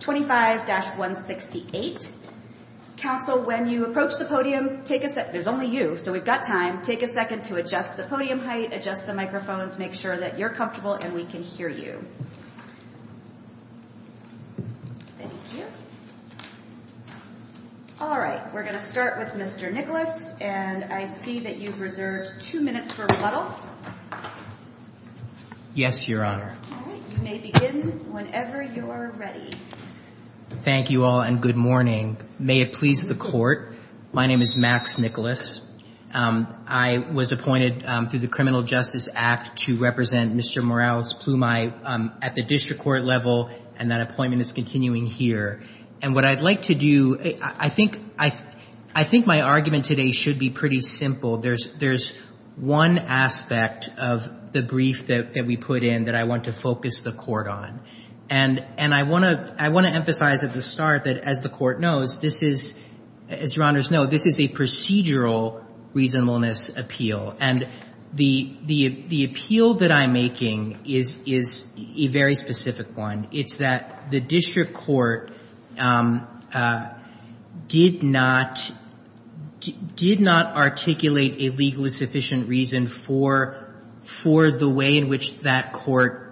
25-168. Council, when you approach the podium, there's only you, so we've got time, take a second to adjust the podium height, adjust the microphones, make sure that you're comfortable and we can hear you. Thank you. All right, we're going to start with Mr. Nicholas, and I see that you've reserved two minutes for rebuttal. Yes, Your Honor. All right, you may begin whenever you're ready. Thank you all, and good morning. May it please the court, my name is Max Nicholas. I was appointed through the Criminal Justice Act to represent Mr. Morales-Plumei at the district court level, and that appointment is continuing here. And what I'd like to do, I think my argument today should be pretty simple. There's one aspect of the brief that we put in that I want to focus the court on. And I want to emphasize at the start that, as the court knows, this is, as Your Honors know, this is a procedural reasonableness appeal. And the appeal that I'm making is a very specific one. It's that the district court did not, did not articulate a legally sufficient reason for, for the way in which that court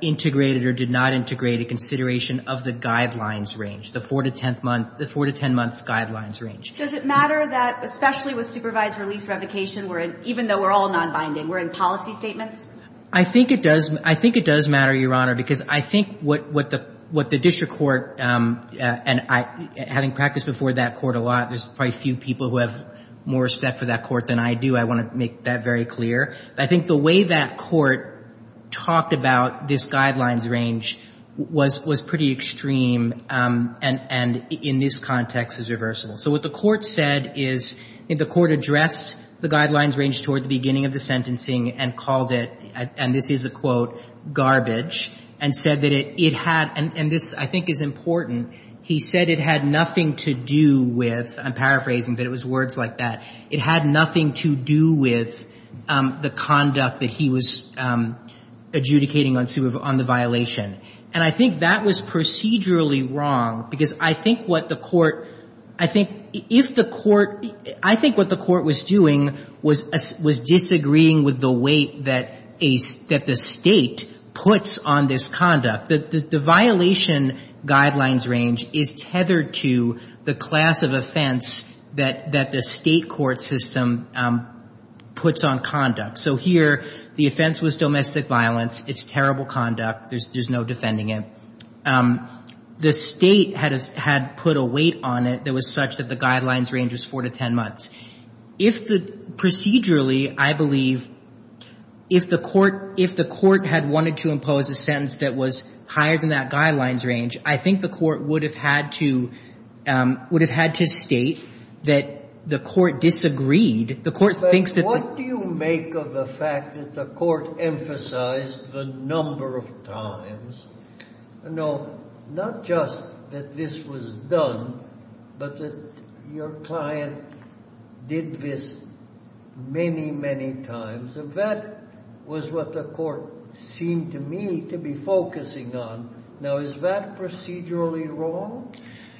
integrated or did not integrate a consideration of the guidelines range, the 4-10 month, the 4-10 month guidelines range. Does it matter that, especially with supervised release revocation, we're in, even though we're all nonbinding, we're in policy statements? I think it does. I think it does matter, Your Honor, because I think what, what the, what the district court, and I, having practiced before that court a lot, there's probably few people who have more respect for that court than I do. I want to make that very clear. I think the way that court talked about this guidelines range was, was pretty extreme and, and in this context is reversible. So what the court said is, the court addressed the guidelines range toward the beginning of the sentencing and called it, and this is a quote, garbage, and said that it, it had, and, and this I think is important, he said it had nothing to do with, I'm paraphrasing but it was words like that, it had nothing to do with the conduct that he was adjudicating on the violation. And I think that was procedurally wrong because I think what the court, I think if the court, I think what the court was doing was, was disagreeing with the weight that a, that the state puts on this conduct. The, the, the violation guidelines range is tethered to the class of offense that, that the state court system puts on conduct. So here, the offense was domestic violence. It's terrible conduct. There's, there's no defending it. The state had, had put a weight on it that was such that the guidelines range was four to ten months. If the, procedurally, I believe, if the court, if the court had wanted to impose a sentence that was higher than that guidelines range, I think the court would have had to, would have had to state that the court disagreed. The court thinks that... What do you make of the fact that the court emphasized the number of times, no, not just that this was done, but that your client did this many, many times. And that was what the court seemed to me to be focusing on. Now, is that procedurally wrong?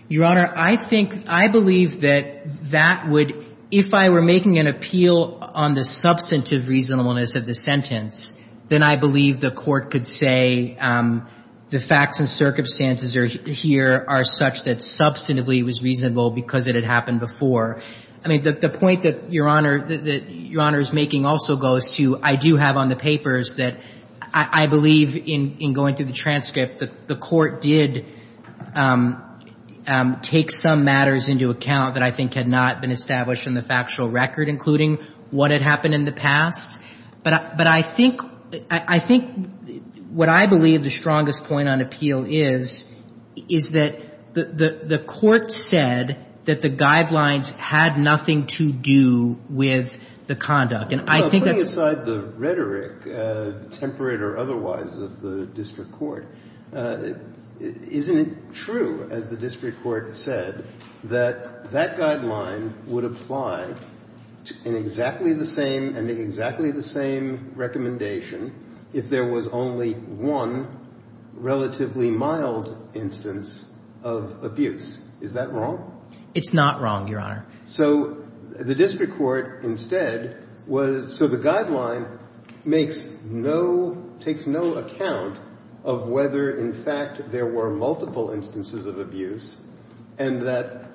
Your Honor, I think, I believe that that would, if I were making an appeal on the substantive reasonableness of the sentence, then I believe the court could say the facts and circumstances are, here are such that substantively it was reasonable because it had happened before. I mean, the, the point that Your Honor, that Your Honor is making also goes to, I do have on the papers that I, I believe in, in going through the transcript that the court did take some matters into account that I think had not been established in the factual record, including what had happened in the past. But I, but I think, I think what I believe the strongest point on appeal is, is that the, the, the court said that the guidelines had nothing to do with the conduct. And I think that's... Isn't it true, as the district court said, that that guideline would apply in exactly the same, in exactly the same recommendation if there was only one relatively mild instance of abuse. Is that wrong? It's not wrong, Your Honor. So the district court instead was, so the guideline makes no, takes no account of whether in fact there were multiple instances of abuse and that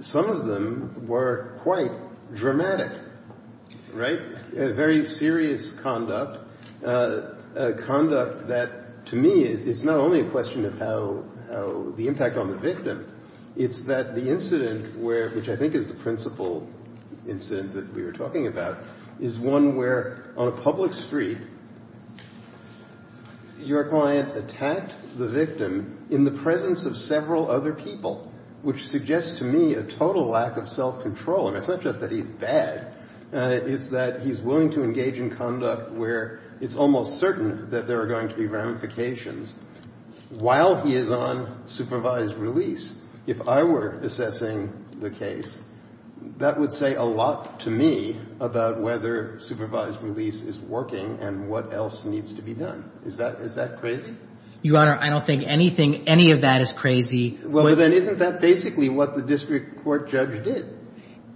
some of them were quite dramatic, right? Very serious conduct, conduct that to me is, is not only a question of how, how the impact on the victim, it's that the incident where, which I think is the principal incident that we were talking about, is one where on a public street your client attacked the victim in the presence of several other people, which suggests to me a total lack of self-control. And it's not just that he's bad, it's that he's willing to engage in conduct where it's almost certain that there are going to be ramifications while he is on supervised release. If I were assessing the case, that would say a lot to me about whether supervised release is working and what else needs to be done. Is that, is that crazy? Your Honor, I don't think anything, any of that is crazy. Well, then isn't that basically what the district court judge did?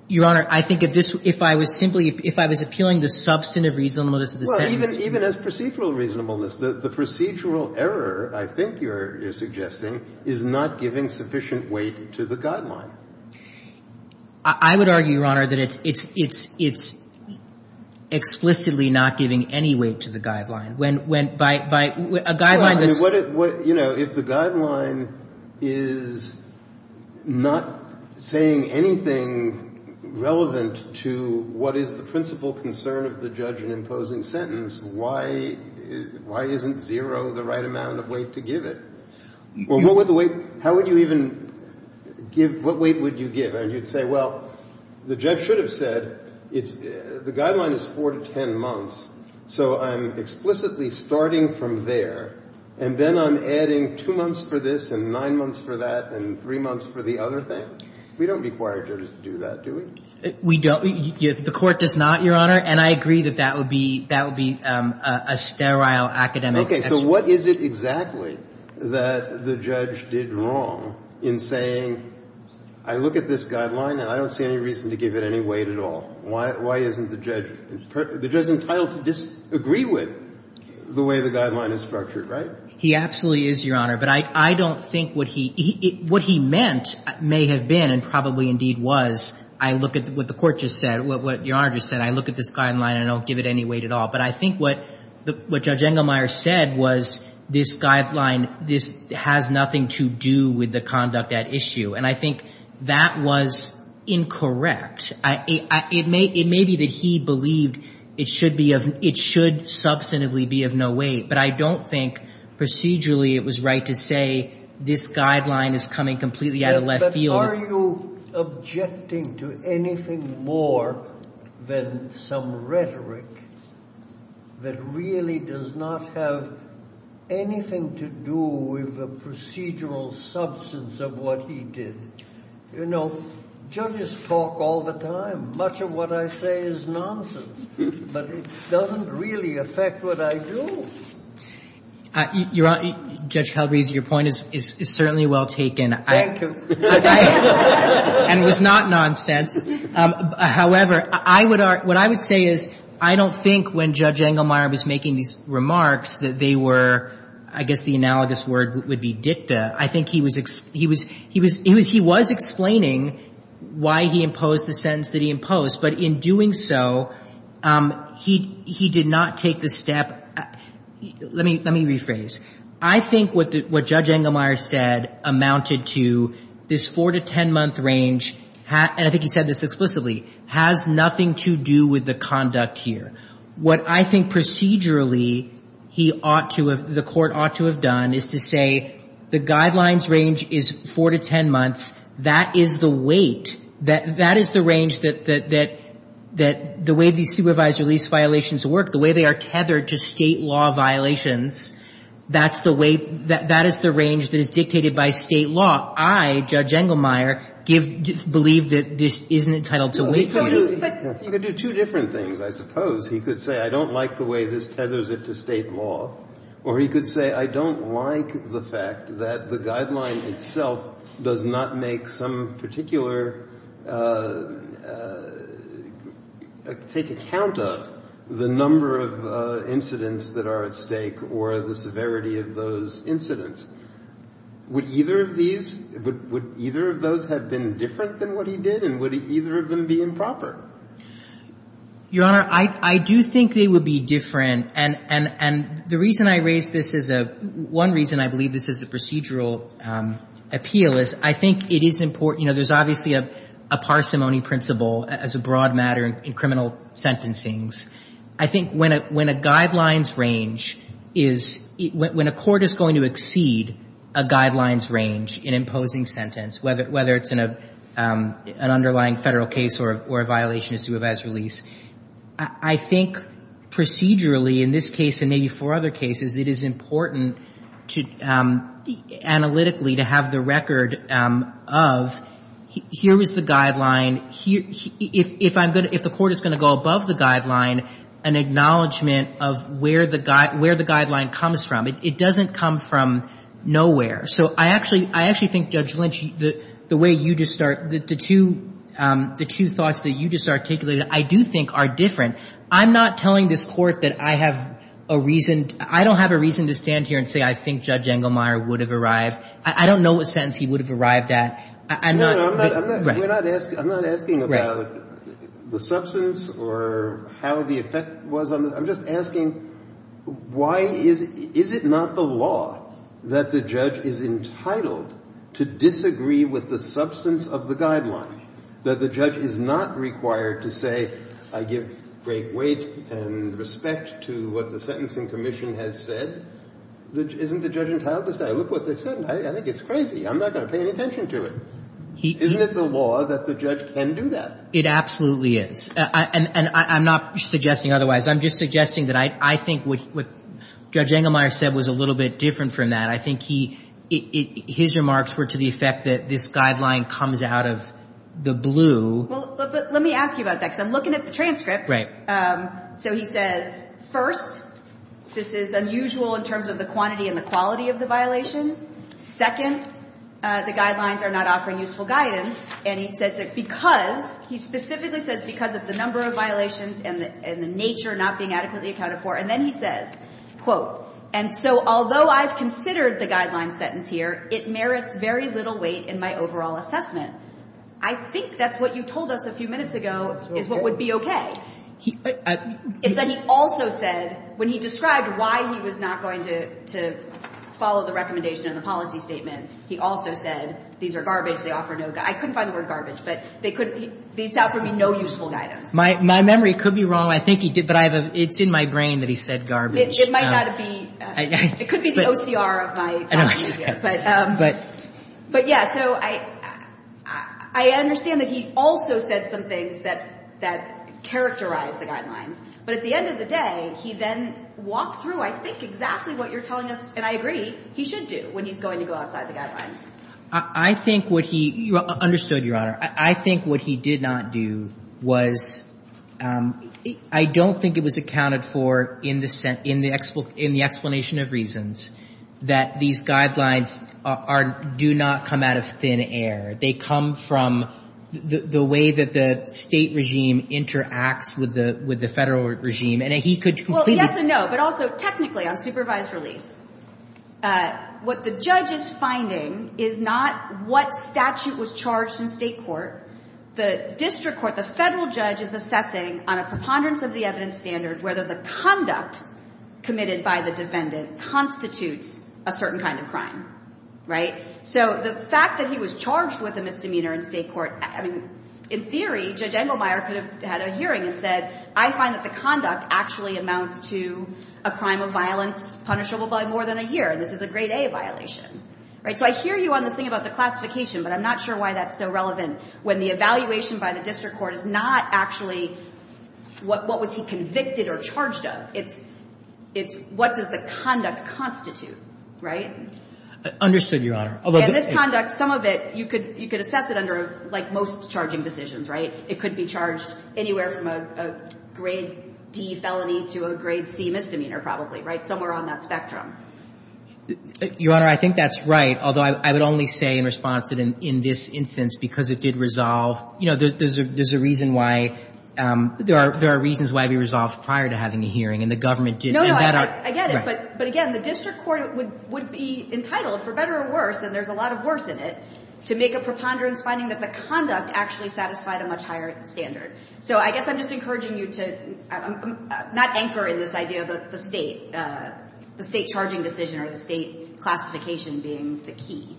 Your Honor, I think if this, if I was simply, if I was appealing the substantive reasonableness of the sentence. Well, even as procedural reasonableness, the procedural error I think you're suggesting is not giving sufficient weight to the guideline. I would argue, Your Honor, that it's, it's, it's, it's explicitly not giving any weight to the guideline. When, when, by, by, a guideline that's. Well, I mean, what, what, you know, if the guideline is not saying anything relevant to what is the principal concern of the judge in imposing sentence, why, why isn't zero the right amount of weight to give it? Well, what would the weight, how would you even give, what weight would you give it? And you'd say, well, the judge should have said, it's, the guideline is 4 to 10 months, so I'm explicitly starting from there, and then I'm adding 2 months for this, and 9 months for that, and 3 months for the other thing. We don't require judges to do that, do we? We don't, you, the court does not, Your Honor, and I agree that that would be, that would be a, a, a sterile academic. Okay, so what is it exactly that the judge did wrong in saying, I don't know, I don't I look at this guideline and I don't see any reason to give it any weight at all. Why, why isn't the judge, the judge entitled to disagree with the way the guideline is structured, right? He absolutely is, Your Honor, but I, I don't think what he, he, what he meant may have been, and probably indeed was, I look at what the court just said, what, what Your Honor just said, I look at this guideline and I don't give it any weight at all. But I think what, what Judge Engelmeyer said was this guideline, this has nothing to do with the conduct at issue, and I think that was incorrect. I, I, it may, it may be that he believed it should be of, it should substantively be of no weight, but I don't think procedurally it was right to say this guideline is coming completely out of left field. Yes, but are you objecting to anything more than some rhetoric that really does not have anything to do with the procedural substance of what he did? You know, judges talk all the time. Much of what I say is nonsense, but it doesn't really affect what I do. Your Honor, Judge Calabresi, your point is, is, is certainly well taken. Thank you. And it was not nonsense. However, I would, what I would say is I don't think when Judge Engelmeyer was making these remarks that they were, I guess the analogous word would be dicta. I think he was, he was, he was, he was explaining why he imposed the sentence that he imposed, but in doing so, he, he did not take the step, let me, let me rephrase. I think what the, what Judge Engelmeyer said amounted to this four-to-ten-month range, and I think he said this explicitly, has nothing to do with the conduct here. What I think procedurally he ought to have, the Court ought to have done is to say the guidelines range is four-to-ten months. That is the weight, that, that is the range that, that, that, that the way these supervisory lease violations work, the way they are tethered to State law violations, that's the way, that, that is the range that is dictated by State law. I, Judge Engelmeyer, give, believe that this isn't entitled to wait. He could do, he could do two different things, I suppose. He could say, I don't like the way this tethers it to State law, or he could say, I don't like the fact that the guideline itself does not make some particular, take account of the number of incidents that are at stake or the severity of those incidents. Would either of these, would, would either of those have been different than what he did, and would either of them be improper? Your Honor, I, I do think they would be different, and, and, and the reason I raise this as a, one reason I believe this is a procedural appeal is I think it is important, you know, there's obviously a, a parsimony principle as a broad matter in criminal sentencings. I think when a, when a guidelines range is, when a Court is going to exceed a guidelines range in imposing sentence, whether, whether it's in a, an underlying Federal case or a, or a violation of supervised release, I, I think procedurally in this case and maybe four other cases, it is important to analytically to have the record of, here is the guideline, here, if, if I'm going to, if the Court is going to go above the guideline, an acknowledgement of where the guide, where the guideline comes from. It, it doesn't come from nowhere. So I actually, I actually think Judge Lynch, the, the way you just start, the, the two, the two thoughts that you just articulated, I do think are different. I'm not telling this Court that I have a reason, I don't have a reason to stand here and say I think Judge Engelmeyer would have arrived. I, I don't know what sentence he would have arrived at. I'm not, I'm not, I'm not, I'm not, I'm not, I'm not asking, I'm not asking about the substance or how the effect was on the, I'm just asking why is, is it not the law that the judge is entitled to disagree with the substance of the guideline, that the judge is not required to say, I give great weight and respect to what the Sentencing Commission has said? Isn't the judge entitled to say, look what they said, I think it's crazy, I'm not going to pay any attention to it? Isn't it the law that the judge can do that? It absolutely is. And, and, and I'm not suggesting otherwise. I'm just suggesting that I, I think what, what Judge Engelmeyer said was a little bit different from that. I think he, it, it, his remarks were to the effect that this guideline comes out of the blue. Well, but, but let me ask you about that because I'm looking at the transcript. Right. So he says, first, this is unusual in terms of the quantity and the quality of the violations. Second, the guidelines are not offering useful guidance and he said that because, he specifically says because of the number of violations and the, and the nature not being adequately accounted for. And then he says, quote, and so although I've considered the guideline sentence here, it merits very little weight in my overall assessment. I think that's what you told us a few minutes ago is what would be okay. He, I. And then he also said, when he described why he was not going to, to follow the recommendation in the policy statement, he also said these are garbage, they offer no, I couldn't find the word garbage, but they could, these offer me no useful guidance. My memory could be wrong. I think he did, but I have a, it's in my brain that he said garbage. It might not be, it could be the OCR of my, but, but yeah, so I, I understand that he also said some things that, that characterize the guidelines, but at the end of the day, he then walked through, I think exactly what you're telling us, and I agree, he should do when he's going to go outside the guidelines. I think what he, you understood, Your Honor, I, I think what he did not do was, I don't think it was accounted for in the, in the explanation of reasons that these guidelines are, do not come out of thin air. They come from the, the way that the State regime interacts with the, with the Federal regime, and he could completely. Well, yes and no, but also technically on supervised release. What the judge is finding is not what statute was charged in State court. The district court, the Federal judge is assessing on a preponderance of the evidence standard whether the conduct committed by the defendant constitutes a certain kind of crime, right? So the fact that he was charged with a misdemeanor in State court, I mean, in theory, Judge Engelmeyer could have had a hearing and said, I find that the conduct actually amounts to a crime of violence punishable by more than a year, and this is a grade A violation, right? So I hear you on this thing about the classification, but I'm not sure why that's so relevant when the evaluation by the district court is not actually what, what was he convicted or charged of. It's, it's what does the conduct constitute, right? Understood, Your Honor. Although this conduct, some of it, you could, you could assess it under like most charging decisions, right? It could be charged anywhere from a, a grade D felony to a grade C misdemeanor probably, right? Somewhere on that spectrum. Your Honor, I think that's right. Although I would only say in response that in, in this instance, because it did resolve, you know, there's a, there's a reason why there are, there are reasons why it'd be resolved prior to having a hearing and the government did. No, no, I get it. But, but again, the district court would, would be entitled for better or worse, and there's a lot of worse in it, to make a preponderance finding that the conduct actually satisfied a much higher standard. So I guess I'm just encouraging you to not anchor in this idea of the state, the state charging decision or the state classification being the key.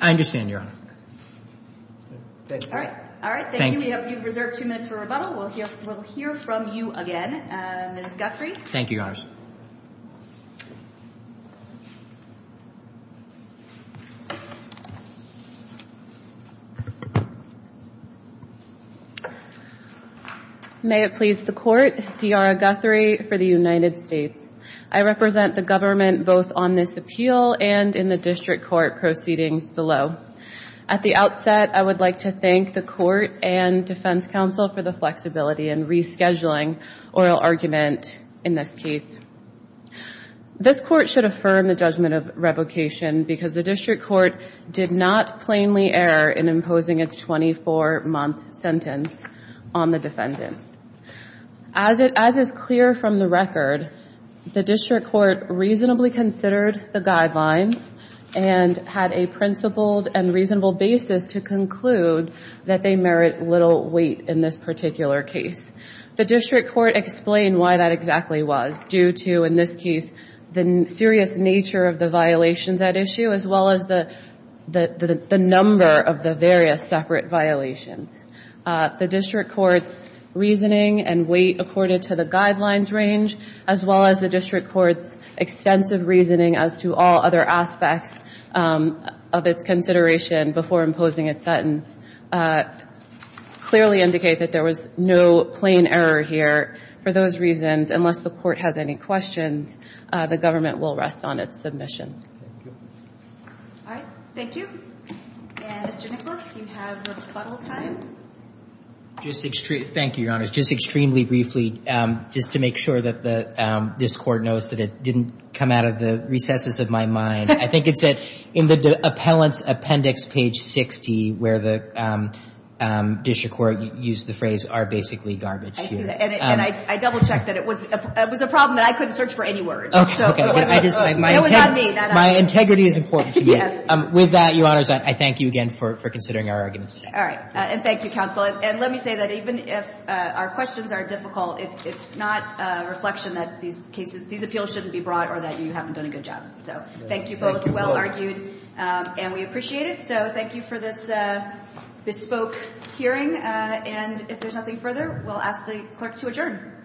I understand, Your Honor. All right. All right. Thank you. We have, you've reserved two minutes for rebuttal. We'll hear, we'll hear from you again, Ms. Guthrie. Thank you, Your Honor. May it please the court, D'Ara Guthrie for the United States. I represent the government both on this appeal and in the district court proceedings below. At the outset, I would like to thank the court and defense counsel for the flexibility in rescheduling oral argument in this case. This court should affirm the judgment of revocation because the district court did not plainly err in imposing its 24-month sentence. On the defendant, as it, as is clear from the record, the district court reasonably considered the guidelines and had a principled and reasonable basis to conclude that they merit little weight in this particular case. The district court explained why that exactly was due to, in this case, the serious nature of the violations at issue, as well as the, the, the, the number of the various separate violations. The district court's reasoning and weight accorded to the guidelines range, as well as the district court's extensive reasoning as to all other aspects of its consideration before imposing its sentence, clearly indicate that there was no plain error here. For those reasons, unless the court has any questions, the government will rest on its submission. All right. Thank you. And Mr. Nicholas, do you have the rebuttal time? Just extreme, thank you, Your Honor, just extremely briefly, just to make sure that the, this court knows that it didn't come out of the recesses of my mind, I think it said in the appellant's appendix, page 60, where the district court used the phrase are basically garbage. And I double-checked that it was, it was a problem that I couldn't search for any words, so it wasn't, it was not me. My integrity is important to me. Yes. With that, Your Honors, I thank you again for considering our arguments today. All right. And thank you, counsel. And let me say that even if our questions are difficult, it's not a reflection that these cases, these appeals shouldn't be brought or that you haven't done a good job. So thank you both, well argued, and we appreciate it. So thank you for this bespoke hearing. And if there's nothing further, we'll ask the clerk to adjourn.